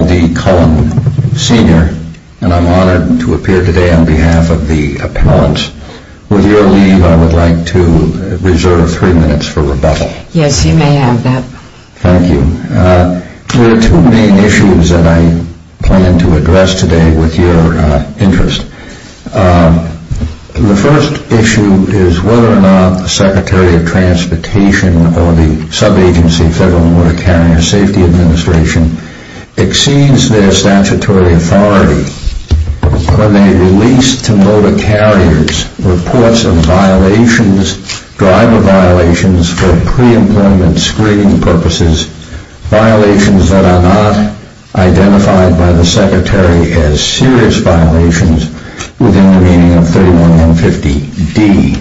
I'm D. Cullen Sr., and I'm honored to appear today on behalf of the appellants. With your leave, I would like to reserve three minutes for rebuttal. Yes, you may have that. Thank you. There are two main issues that I plan to address today with your interest. The first issue is whether or not the Secretary of Transportation or the sub-agency Federal Motor Carrier Safety Administration exceeds their statutory authority when they release to motor carriers reports of violations, driver violations, for pre-employment screening purposes, violations that are not identified by the Secretary as serious violations within the meaning of 3150D.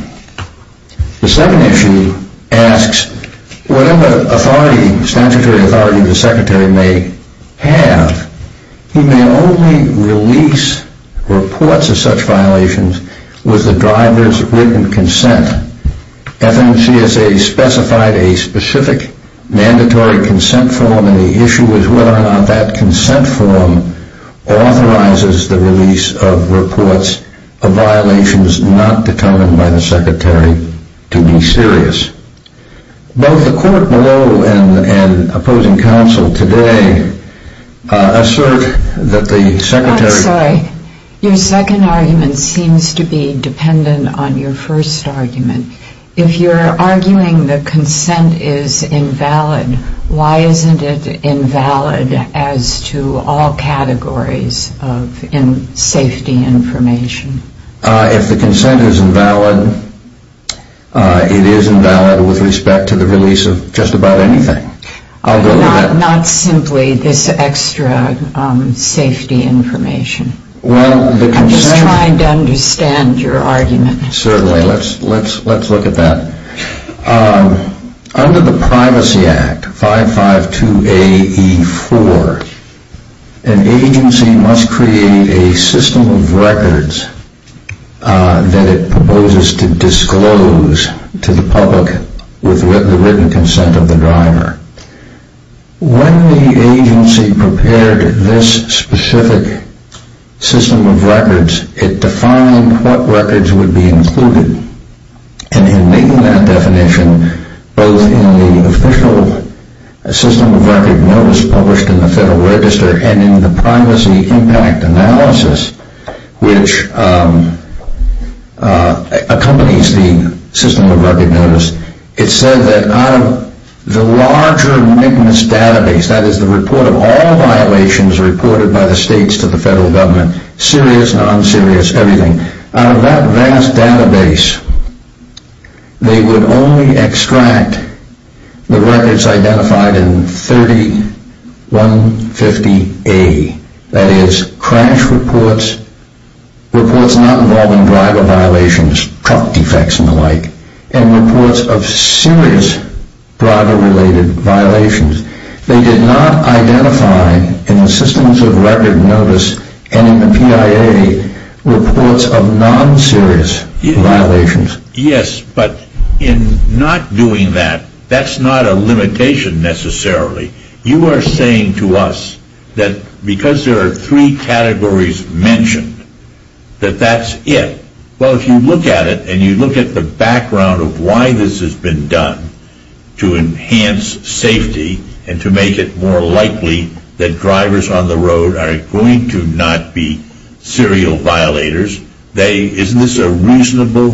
The second issue asks, whatever statutory authority the Secretary may have, he may only release reports of such violations with the driver's written consent. FMCSA specified a specific mandatory consent form, and the issue is whether or not that consent form authorizes the release of reports of violations not determined by the Secretary to be serious. Both the court below and opposing counsel today assert that the Secretary... I'm sorry. Your second argument seems to be dependent on your first argument. If you're arguing that consent is invalid, why isn't it invalid as to all categories of safety information? If the consent is invalid, it is invalid with respect to the release of just about anything. Not simply this extra safety information. I'm just trying to understand your argument. Certainly. Let's look at that. Under the Privacy Act, 552AE4, an agency must create a system of records that it proposes to disclose to the public with the written consent of the driver. When the agency prepared this specific system of records, it defined what records would be included, and in making that definition, both in the official system of record notice published in the Federal Register and in the Privacy Impact Analysis, which accompanies the system of record notice, it said that out of the larger MIGMAS database, that is the report of all violations reported by the states to the Federal Government, serious, non-serious, everything. Out of that vast database, they would only extract the records identified in 3150A, that is crash reports, reports not involving driver violations, truck defects and the like, and reports of serious driver-related violations. They did not identify in the systems of record notice and in the PIA reports of non-serious violations. Yes, but in not doing that, that's not a limitation necessarily. You are saying to us that because there are three categories mentioned, that that's it. Well, if you look at it and you look at the background of why this has been done to enhance safety and to make it more likely that drivers on the road are going to not be serial violators, isn't this a reasonable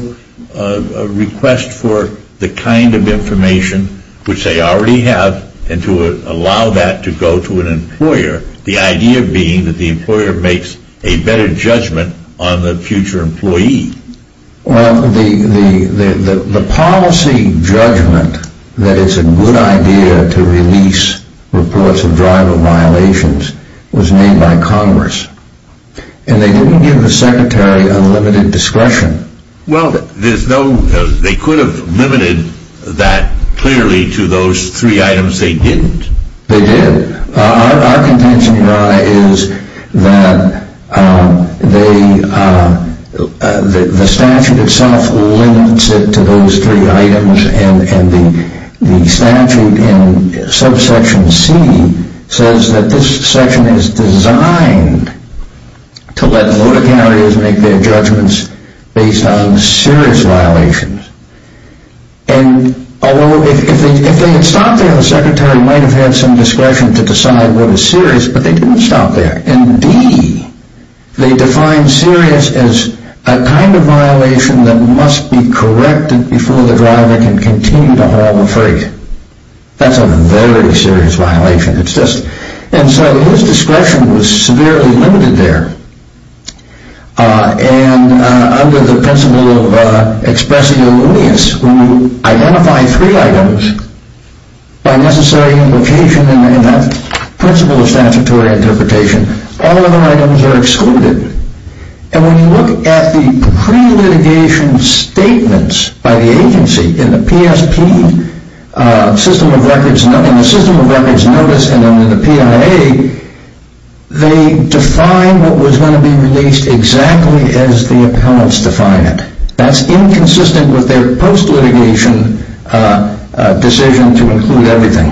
request for the kind of information which they already have and to allow that to go to an employer, the idea being that the employer makes a better judgment on the future employee? Well, the policy judgment that it's a good idea to release reports of driver violations was made by Congress, and they didn't give the Secretary unlimited discretion. Well, they could have limited that clearly to those three items they didn't. They did. Our contention, Your Honor, is that the statute itself limits it to those three items, and the statute in subsection C says that this section is designed to let motor carriers make their judgments based on serious violations. And if they had stopped there, the Secretary might have had some discretion to decide what is serious, but they didn't stop there. In D, they defined serious as a kind of violation that must be corrected before the driver can continue to haul the freight. That's a very serious violation. And so his discretion was severely limited there. And under the principle of expressi illuminis, who identify three items by necessary implication in that principle of statutory interpretation, all other items are excluded. And when you look at the pre-litigation statements by the agency in the PSP system of records, in the system of records notice and in the PIA, they define what was going to be released exactly as the appellants define it. That's inconsistent with their post-litigation decision to include everything.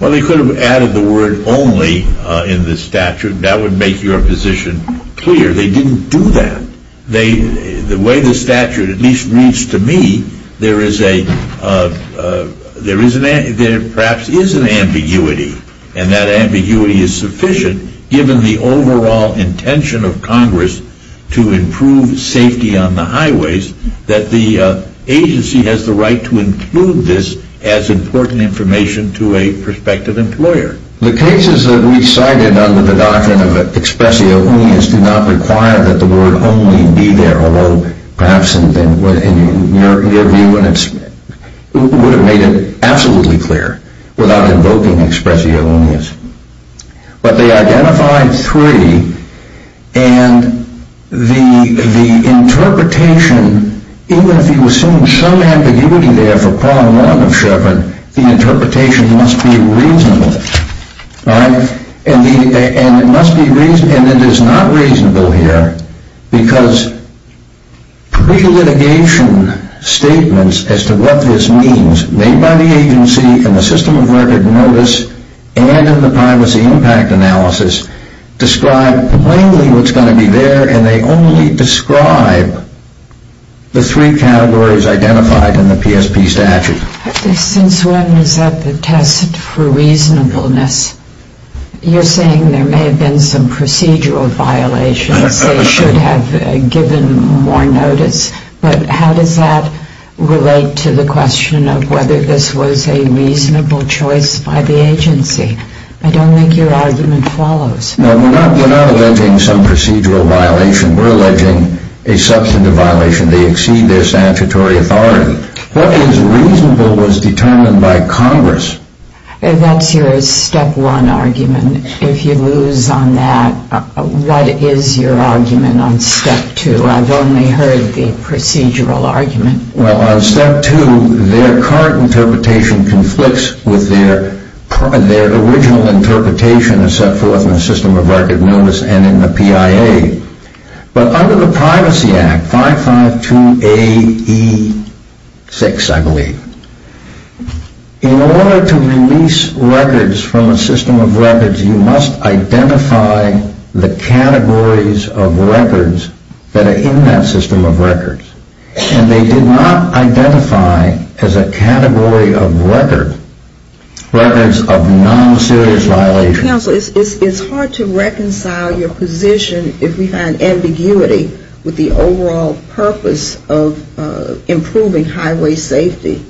Well, they could have added the word only in the statute. That would make your position clear. They didn't do that. The way the statute at least reads to me, there perhaps is an ambiguity, and that ambiguity is sufficient given the overall intention of Congress to improve safety on the highways that the agency has the right to include this as important information to a prospective employer. The cases that we cited under the doctrine of expressi illuminis do not require that the word only be there, although perhaps in your view it would have made it absolutely clear without invoking expressi illuminis. But they identified three, and the interpretation, even if you assume some ambiguity there for prong one of Chevron, the interpretation must be reasonable. And it is not reasonable here because pre-litigation statements as to what this means made by the agency in the system of record notice and in the privacy impact analysis describe plainly what's going to be there, and they only describe the three categories identified in the PSP statute. Since one is at the test for reasonableness, you're saying there may have been some procedural violations. They should have given more notice. But how does that relate to the question of whether this was a reasonable choice by the agency? I don't think your argument follows. No, we're not alleging some procedural violation. We're alleging a substantive violation. They exceed their statutory authority. What is reasonable was determined by Congress. That's your step one argument. If you lose on that, what is your argument on step two? I've only heard the procedural argument. Well, on step two, their current interpretation conflicts with their original interpretation as set forth in the system of record notice and in the PIA. But under the Privacy Act, 552AE6, I believe, in order to release records from a system of records, you must identify the categories of records that are in that system of records. And they did not identify as a category of record records of non-serious violations. Counsel, it's hard to reconcile your position if we find ambiguity with the overall purpose of improving highway safety.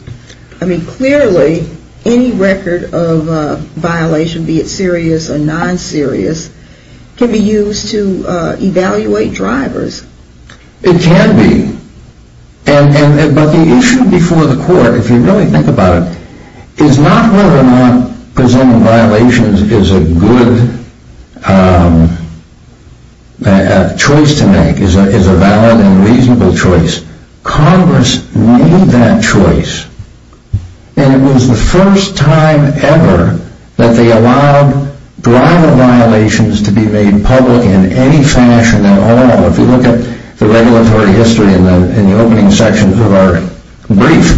I mean, clearly, any record of violation, be it serious or non-serious, can be used to evaluate drivers. It can be. But the issue before the court, if you really think about it, is not whether or not presenting violations is a good choice to make, is a valid and reasonable choice. Congress made that choice, and it was the first time ever that they allowed driver violations to be made public in any fashion at all. If you look at the regulatory history in the opening sections of our brief,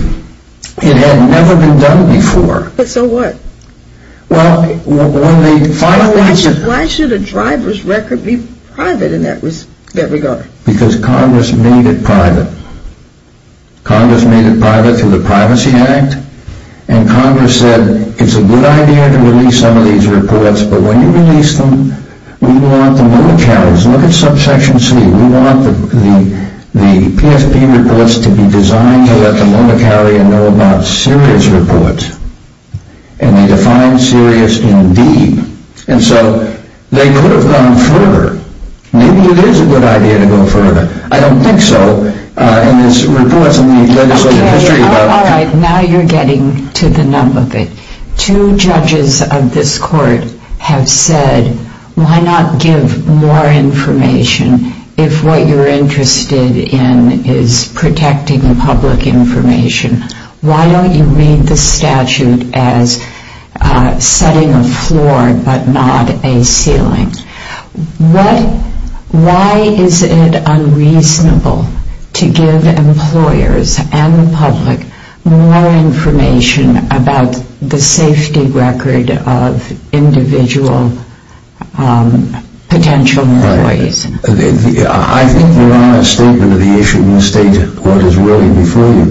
it had never been done before. But so what? Well, one of the final reasons... Why should a driver's record be private in that regard? Because Congress made it private. Congress made it private through the Privacy Act, and Congress said it's a good idea to release some of these reports, but when you release them, we want the loan accounts. Look at Subsection C. We want the PSP reports to be designed to let the loaner carrier know about serious reports, and they define serious in D. And so they could have gone further. Maybe it is a good idea to go further. I don't think so. And there's reports in the legislative history about... Okay, all right. Now you're getting to the nub of it. Two judges of this court have said, why not give more information if what you're interested in is protecting public information? Why don't you read the statute as setting a floor but not a ceiling? Why is it unreasonable to give employers and the public more information about the safety record of individual potential employees? I think you're on a statement of the issue. You state what is really before you.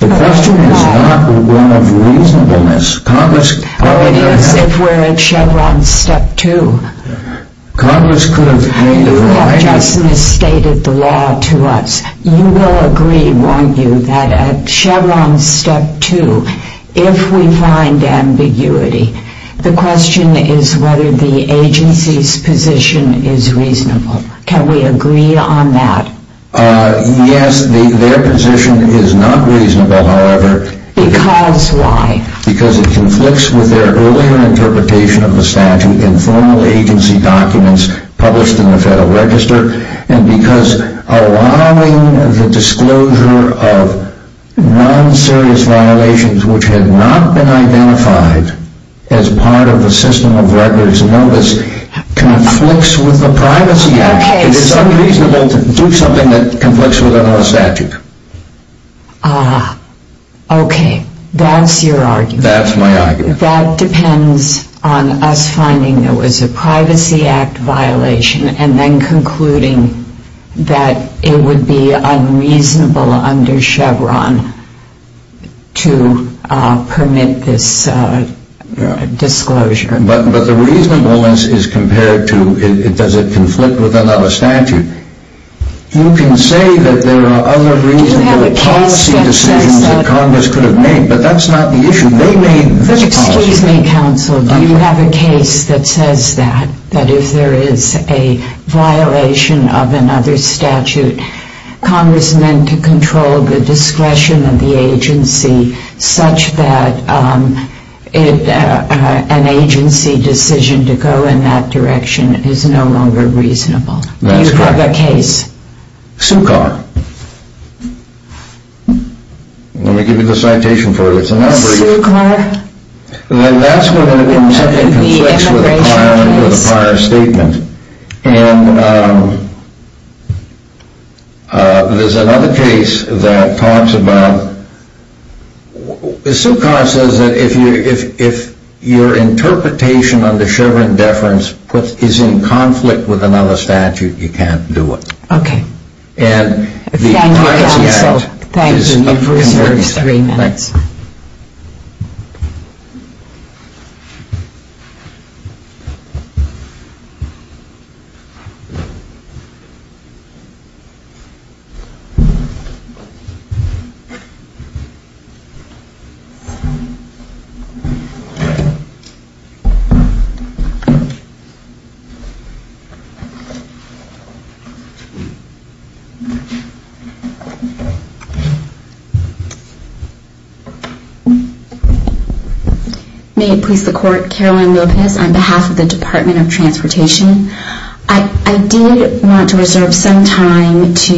The question is not one of reasonableness. Oh, it is if we're at Chevron Step 2. Congress could have made it right. You've just misstated the law to us. You will agree, won't you, that at Chevron Step 2, if we find ambiguity, the question is whether the agency's position is reasonable. Can we agree on that? Yes, their position is not reasonable, however. Because why? Because it conflicts with their earlier interpretation of the statute in formal agency documents published in the Federal Register, and because allowing the disclosure of non-serious violations which had not been identified as part of the system of records notice conflicts with the Privacy Act. It is unreasonable to do something that conflicts with another statute. Ah, okay. That's your argument. That's my argument. That depends on us finding there was a Privacy Act violation and then concluding that it would be unreasonable under Chevron to permit this disclosure. But the reasonableness is compared to does it conflict with another statute. You can say that there are other reasonable policy decisions that Congress could have made, but that's not the issue. They made this policy. Excuse me, Counsel. Do you have a case that says that? That if there is a violation of another statute, Congress meant to control the discretion of the agency such that an agency decision to go in that direction is no longer reasonable. That's correct. Do you have a case? SUCCAR. Let me give you the citation for it. SUCCAR? Well, that's when something conflicts with a prior statement. And there's another case that talks about, SUCCAR says that if your interpretation under Chevron deference is in conflict with another statute, you can't do it. Okay. Thank you, Counsel. Thank you. May it please the Court. Caroline Lopez on behalf of the Department of Transportation. I did want to reserve some time to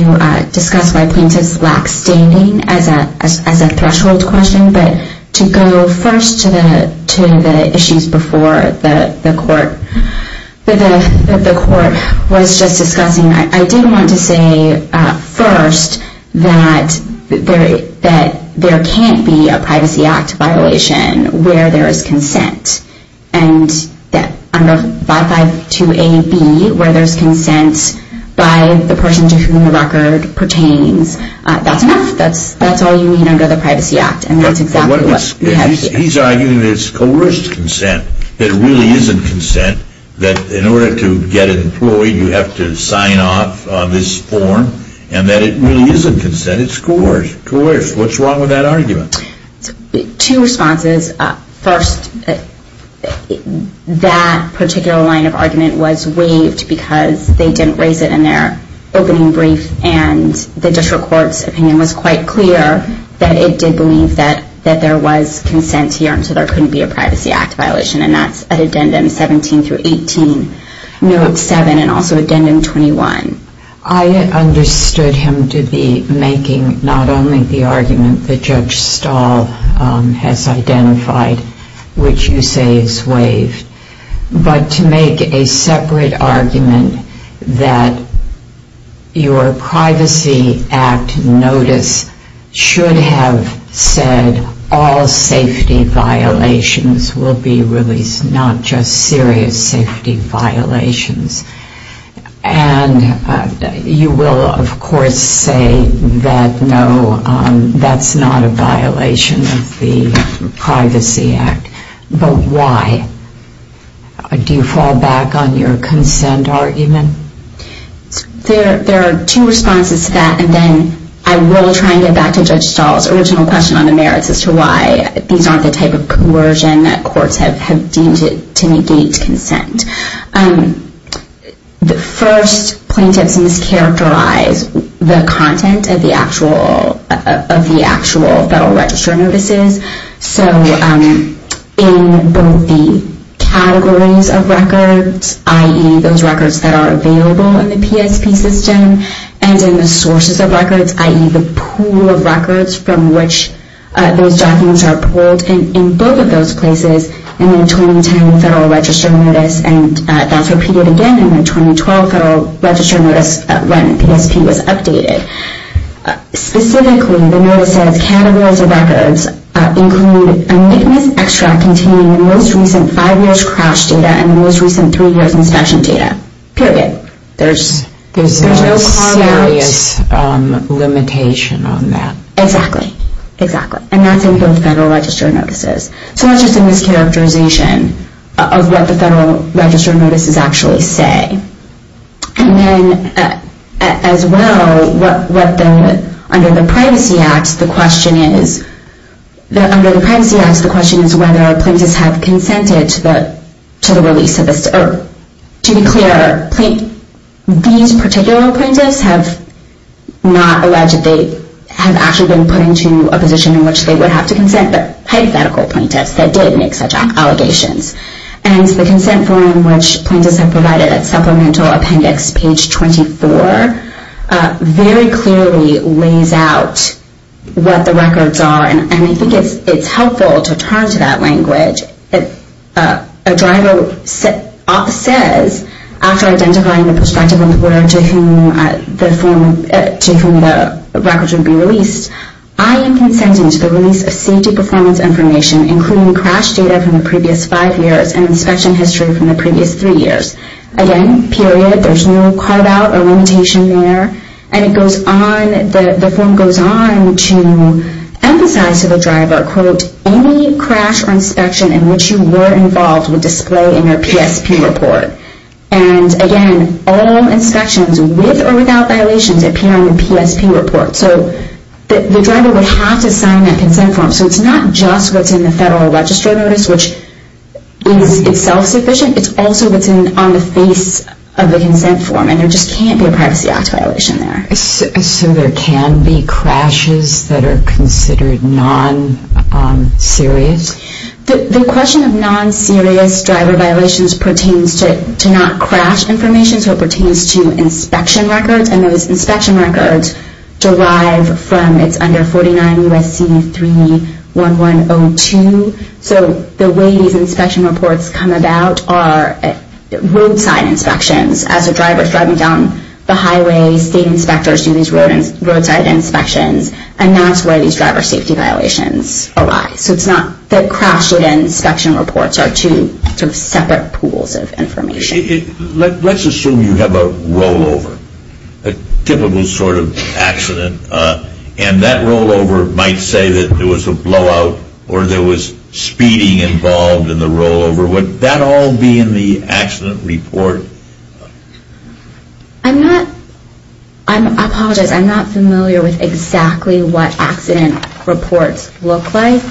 discuss why plaintiffs lack standing as a threshold question, but to go first to the issues before the Court was just discussing. I did want to say first that there can't be a Privacy Act violation where there is consent. And that under 552AB, where there's consent by the person to whom the record pertains, that's enough. That's all you need under the Privacy Act. And that's exactly what we have here. He's arguing that it's coerced consent, that it really isn't consent, that in order to get employed, you have to sign off on this form, and that it really isn't consent. It's coerced. What's wrong with that argument? Two responses. First, that particular line of argument was waived because they didn't raise it in their opening brief, and the District Court's opinion was quite clear that it did believe that there was consent here, and so there couldn't be a Privacy Act violation. And that's at Addendum 17 through 18, Note 7, and also Addendum 21. I understood him to be making not only the argument that Judge Stahl has identified, which you say is waived, but to make a separate argument that your Privacy Act notice should have said that all safety violations will be released, not just serious safety violations. And you will, of course, say that no, that's not a violation of the Privacy Act. But why? Do you fall back on your consent argument? There are two responses to that, and then I will try and get back to Judge Stahl's original question on the merits as to why these aren't the type of coercion that courts have deemed to negate consent. The first, plaintiffs mischaracterize the content of the actual Federal Register notices. So in both the categories of records, i.e. those records that are available in the PSP system, and in the sources of records, i.e. the pool of records from which those documents are pulled, in both of those places, in the 2010 Federal Register notice, and that's repeated again in the 2012 Federal Register notice when PSP was updated. Specifically, the notice says categories of records include amicus extra containing the most recent five years crash data and the most recent three years inspection data, period. There's no serious limitation on that. Exactly, exactly. And that's in both Federal Register notices. So that's just a mischaracterization of what the Federal Register notices actually say. And then, as well, under the Privacy Act, the question is whether plaintiffs have consented to the release, or to be clear, these particular plaintiffs have not alleged they have actually been put into a position in which they would have to consent, but hypothetical plaintiffs that did make such allegations. And the consent form which plaintiffs have provided at Supplemental Appendix page 24 very clearly lays out what the records are, and I think it's helpful to turn to that language. A driver says, after identifying the prospective employer to whom the records would be released, I am consenting to the release of safety performance information, including crash data from the previous five years and inspection history from the previous three years. Again, period. There's no carve out or limitation there. And it goes on, the form goes on to emphasize to the driver, quote, any crash or inspection in which you were involved would display in your PSP report. And again, all inspections with or without violations appear on your PSP report. So the driver would have to sign that consent form. So it's not just what's in the Federal Register notice, which is itself sufficient, it's also what's on the face of the consent form. And there just can't be a Privacy Act violation there. So there can be crashes that are considered non-serious? The question of non-serious driver violations pertains to not crash information, so it pertains to inspection records. And those inspection records derive from, it's under 49 U.S.C. 31102. So the way these inspection reports come about are roadside inspections. As a driver is driving down the highway, state inspectors do these roadside inspections, and that's where these driver safety violations arise. So it's not that crash and inspection reports are two separate pools of information. Let's assume you have a rollover, a typical sort of accident, and that rollover might say that there was a blowout or there was speeding involved in the rollover. Would that all be in the accident report? I apologize. I'm not familiar with exactly what accident reports look like.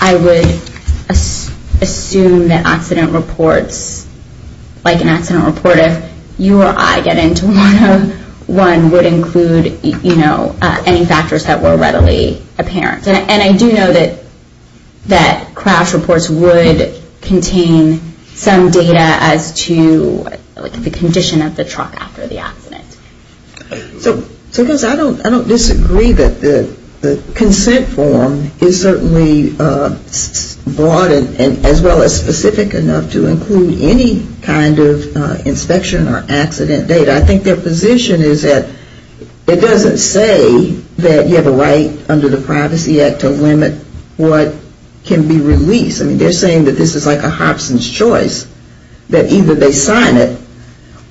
I would assume that accident reports, like an accident report, if you or I get into one, would include any factors that were readily apparent. And I do know that crash reports would contain some data as to the condition of the truck after the accident. So I don't disagree that the consent form is certainly broad and as well as specific enough to include any kind of inspection or accident data. I think their position is that it doesn't say that you have a right under the Privacy Act to limit what can be released. I mean, they're saying that this is like a Hobson's Choice, that either they sign it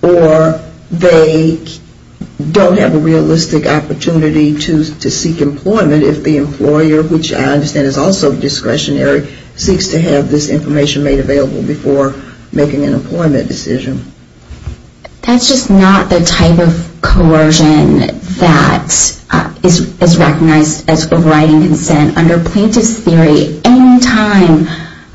or they don't have a realistic opportunity to seek employment if the employer, which I understand is also discretionary, seeks to have this information made available before making an employment decision. That's just not the type of coercion that is recognized as overriding consent. Under plaintiff's theory, any time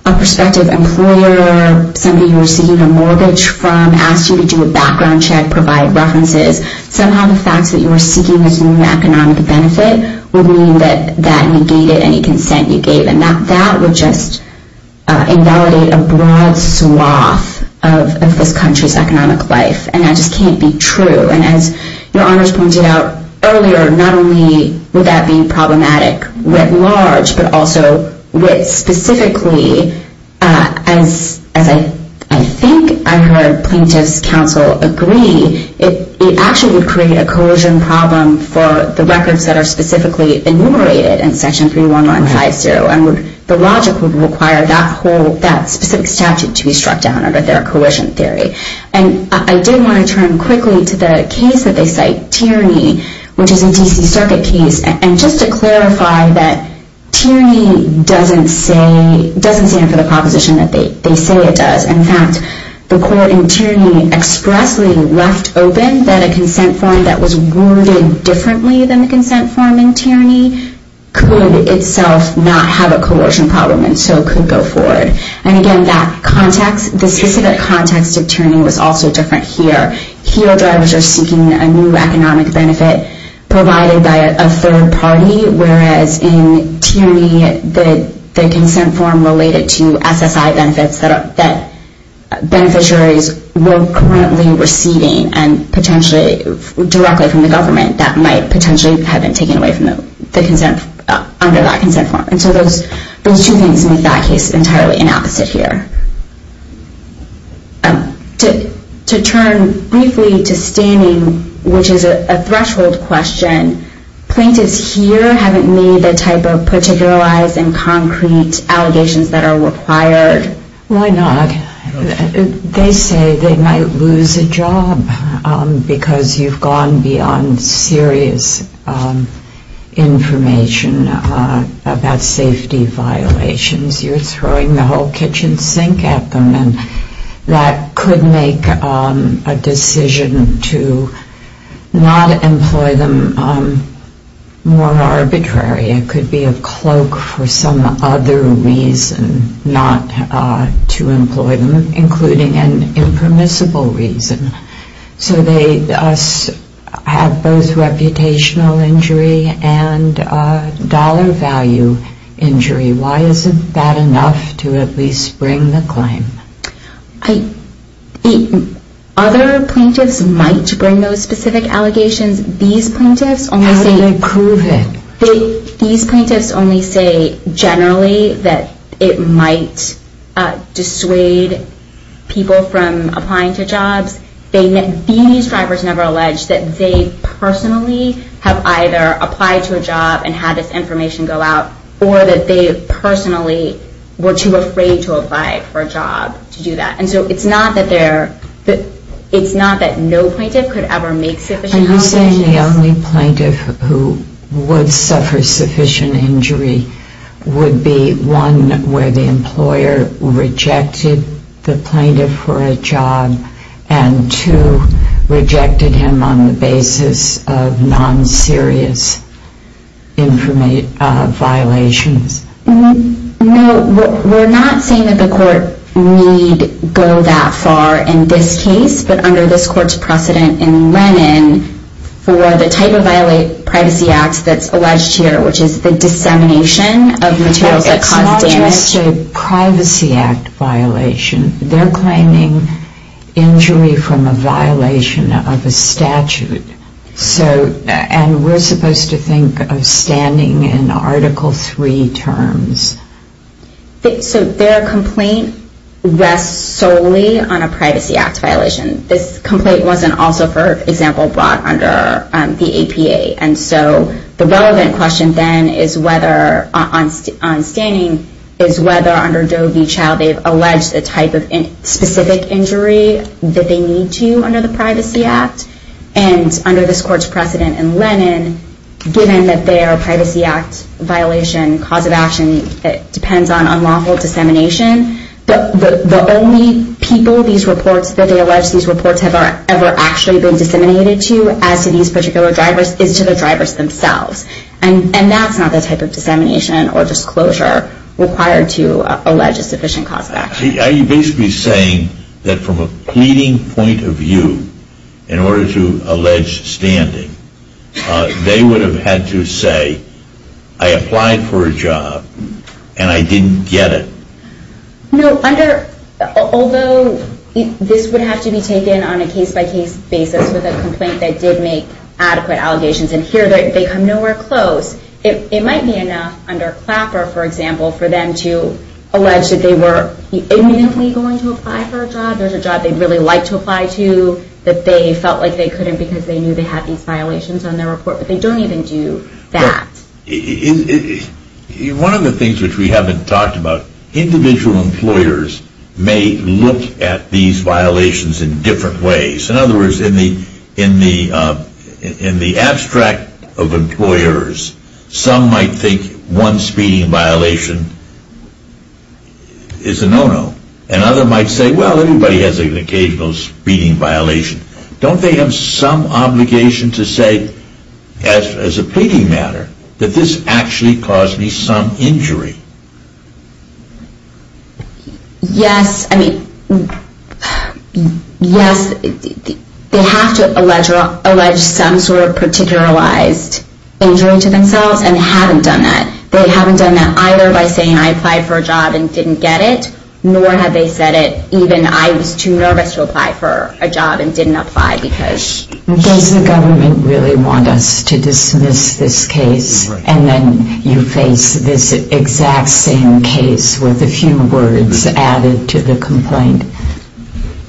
a prospective employer, somebody you're seeking a mortgage from asks you to do a background check, provide references, somehow the fact that you were seeking this new economic benefit would mean that that negated any consent you gave. And that would just invalidate a broad swath of this country's economic life. And that just can't be true. And as Your Honors pointed out earlier, not only would that be problematic writ large, but also with specifically, as I think I heard plaintiff's counsel agree, it actually would create a coercion problem for the records that are specifically enumerated in Section 31950. And the logic would require that specific statute to be struck down under their coercion theory. And I did want to turn quickly to the case that they cite, Tierney, which is a D.C. Circuit case. And just to clarify that Tierney doesn't stand for the proposition that they say it does. In fact, the court in Tierney expressly left open that a consent form that was worded differently than the consent form in Tierney could itself not have a coercion problem and so could go forward. And again, that context, the specific context of Tierney was also different here. Heel drivers are seeking a new economic benefit provided by a third party, whereas in Tierney, the consent form related to SSI benefits that beneficiaries were currently receiving and potentially directly from the government that might potentially have been taken away from the consent, under that consent form. And so those two things make that case entirely inopposite here. To turn briefly to standing, which is a threshold question, plaintiffs here haven't made the type of particularized and concrete allegations that are required. Why not? They say they might lose a job because you've gone beyond serious information about safety violations. You're throwing the whole kitchen sink at them. That could make a decision to not employ them more arbitrary. It could be a cloak for some other reason not to employ them, including an impermissible reason. So they have both reputational injury and dollar value injury. Why isn't that enough to at least bring the claim? Other plaintiffs might bring those specific allegations. These plaintiffs only say... How do they prove it? These plaintiffs only say generally that it might dissuade people from applying to jobs. These drivers never allege that they personally have either applied to a job and had this information go out, or that they personally were too afraid to apply for a job to do that. And so it's not that no plaintiff could ever make sufficient allegations. Are you saying the only plaintiff who would suffer sufficient injury would be one where the employer rejected the plaintiff for a job, and two, rejected him on the basis of non-serious violations? No, we're not saying that the court need go that far in this case, but under this court's precedent in Lennon, for the type of privacy act that's alleged here, which is the dissemination of materials that cause damage... It's not just a Privacy Act violation. They're claiming injury from a violation of a statute. And we're supposed to think of standing in Article III terms. So their complaint rests solely on a Privacy Act violation. This complaint wasn't also, for example, brought under the APA. And so the relevant question then on standing is whether under Doe v. Child they've alleged a type of specific injury that they need to under the Privacy Act. And under this court's precedent in Lennon, given that their Privacy Act violation cause of action depends on unlawful dissemination, the only people these reports that they allege these reports have ever actually been disseminated to as to these particular drivers is to the drivers themselves. And that's not the type of dissemination or disclosure required to allege a sufficient cause of action. Are you basically saying that from a pleading point of view, in order to allege standing, they would have had to say, I applied for a job and I didn't get it? No. Although this would have to be taken on a case-by-case basis with a complaint that did make adequate allegations, and here they come nowhere close. It might be enough under Clapper, for example, for them to allege that they were imminently going to apply for a job. There's a job they'd really like to apply to that they felt like they couldn't because they knew they had these violations on their report, but they don't even do that. One of the things which we haven't talked about, individual employers may look at these violations in different ways. In other words, in the abstract of employers, some might think one speeding violation is a no-no. And others might say, well, everybody has an occasional speeding violation. Don't they have some obligation to say, as a pleading matter, that this actually caused me some injury? Yes. I mean, yes. They have to allege some sort of particularized injury to themselves, and they haven't done that. They haven't done that either by saying, I applied for a job and didn't get it, nor have they said it even, I was too nervous to apply for a job and didn't apply because... Does the government really want us to dismiss this case, and then you face this exact same case with a few words added to the complaint?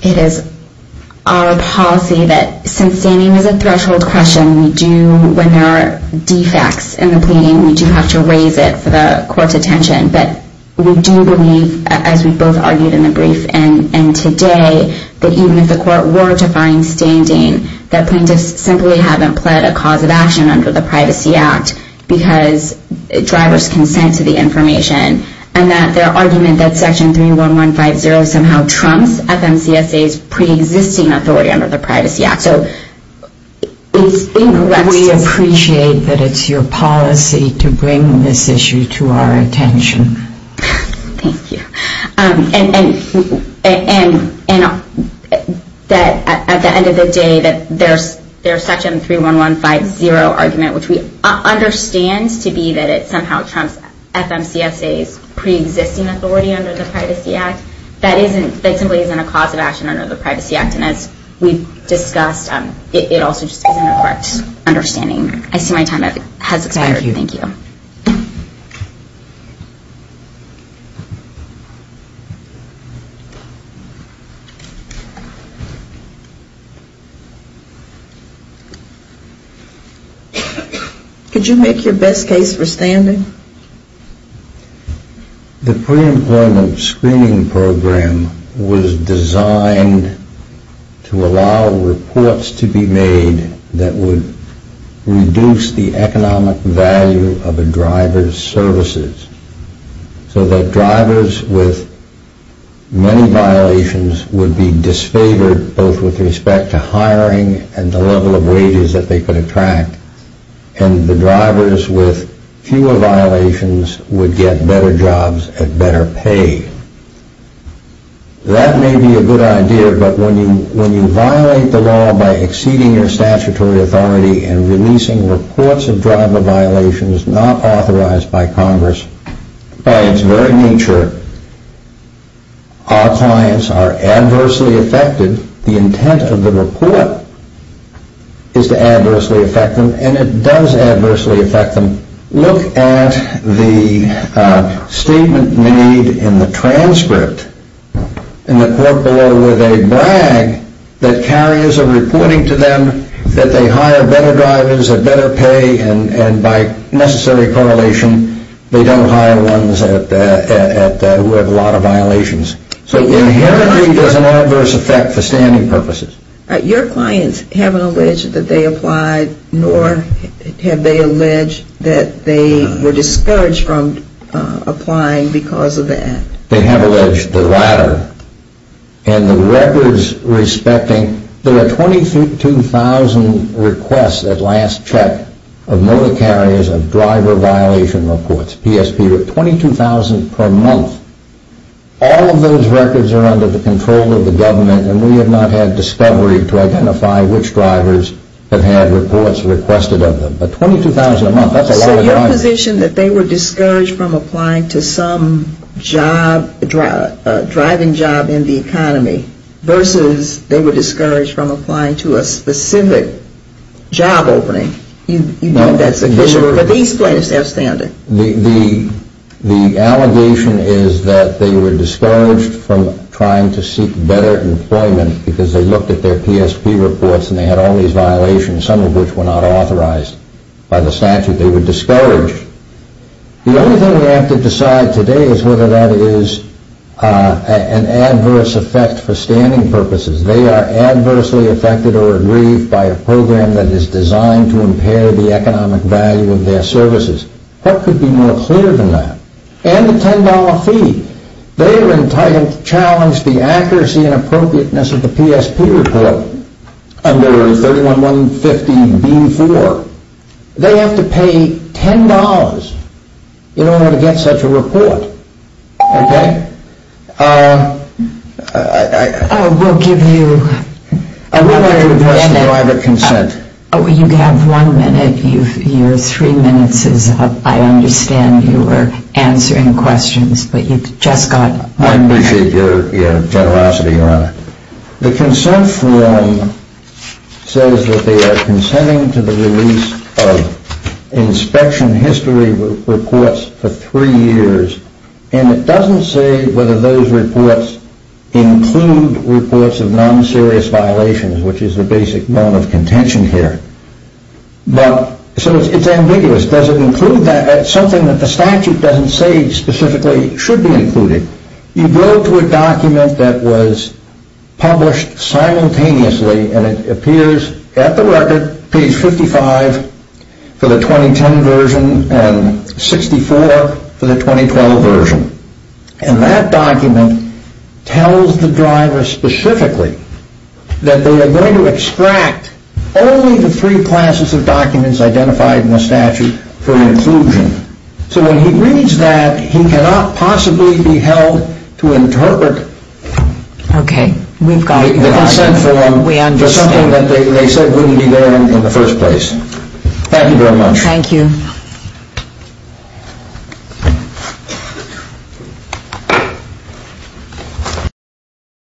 It is our policy that since standing is a threshold question, we do, when there are defects in the pleading, we do have to raise it for the court's attention. But we do believe, as we both argued in the brief and today, that even if the court were to find standing, that plaintiffs simply haven't pled a cause of action under the Privacy Act, because drivers consent to the information, and that their argument that Section 31150 somehow trumps FMCSA's pre-existing authority under the Privacy Act. So it's incorrect to... We appreciate that it's your policy to bring this issue to our attention. Thank you. And at the end of the day, that their Section 31150 argument, which we understand to be that it somehow trumps FMCSA's pre-existing authority under the Privacy Act, that simply isn't a cause of action under the Privacy Act. And as we've discussed, it also just isn't a correct understanding. I see my time has expired. Thank you. Could you make your best case for standing? The pre-employment screening program was designed to allow reports to be made that would reduce the economic value of a driver's services, so that drivers with many violations would be disfavored both with respect to hiring and the level of wages that they could attract, and the drivers with fewer violations would get better jobs at better pay. That may be a good idea, but when you violate the law by exceeding your statutory authority and releasing reports of driver violations not authorized by Congress, by its very nature, our clients are adversely affected. The intent of the report is to adversely affect them, and it does adversely affect them. Look at the statement made in the transcript in the court below where they brag that carriers are reporting to them that they hire better drivers at better pay, and by necessary correlation, they don't hire ones who have a lot of violations. So inherently there's an adverse effect for standing purposes. Your clients haven't alleged that they applied, nor have they alleged that they were discouraged from applying because of that. They have alleged the latter, and the records respecting, there were 22,000 requests at last check of motor carriers of driver violation reports, 22,000 per month. All of those records are under the control of the government, and we have not had discovery to identify which drivers have had reports requested of them. But 22,000 a month, that's a lot of drivers. So your position that they were discouraged from applying to some driving job in the economy versus they were discouraged from applying to a specific job opening, you know that's sufficient for these clients to have standing. The allegation is that they were discouraged from trying to seek better employment because they looked at their PSP reports and they had all these violations, some of which were not authorized by the statute. They were discouraged. The only thing we have to decide today is whether that is an adverse effect for standing purposes. They are adversely affected or aggrieved by a program that is designed to impair the economic value of their services. What could be more clear than that? And the $10 fee. They are entitled to challenge the accuracy and appropriateness of the PSP report under 31150B4. They have to pay $10 in order to get such a report. Okay? We'll give you... I would like to request a private consent. You have one minute. Your three minutes is up. I understand you were answering questions, but you've just got one minute. I appreciate your generosity, Your Honor. The consent form says that they are consenting to the release of inspection history reports for three years and it doesn't say whether those reports include reports of non-serious violations, which is the basic norm of contention here. So it's ambiguous. Does it include that? It's something that the statute doesn't say specifically should be included. You go to a document that was published simultaneously and it appears at the record, page 55 for the 2010 version and 64 for the 2012 version. And that document tells the driver specifically that they are going to extract only the three classes of documents identified in the statute for inclusion. So when he reads that, he cannot possibly be held to interpret... Okay. We've got you. ...the consent form for something that they said wouldn't be there in the first place. Thank you very much. Thank you.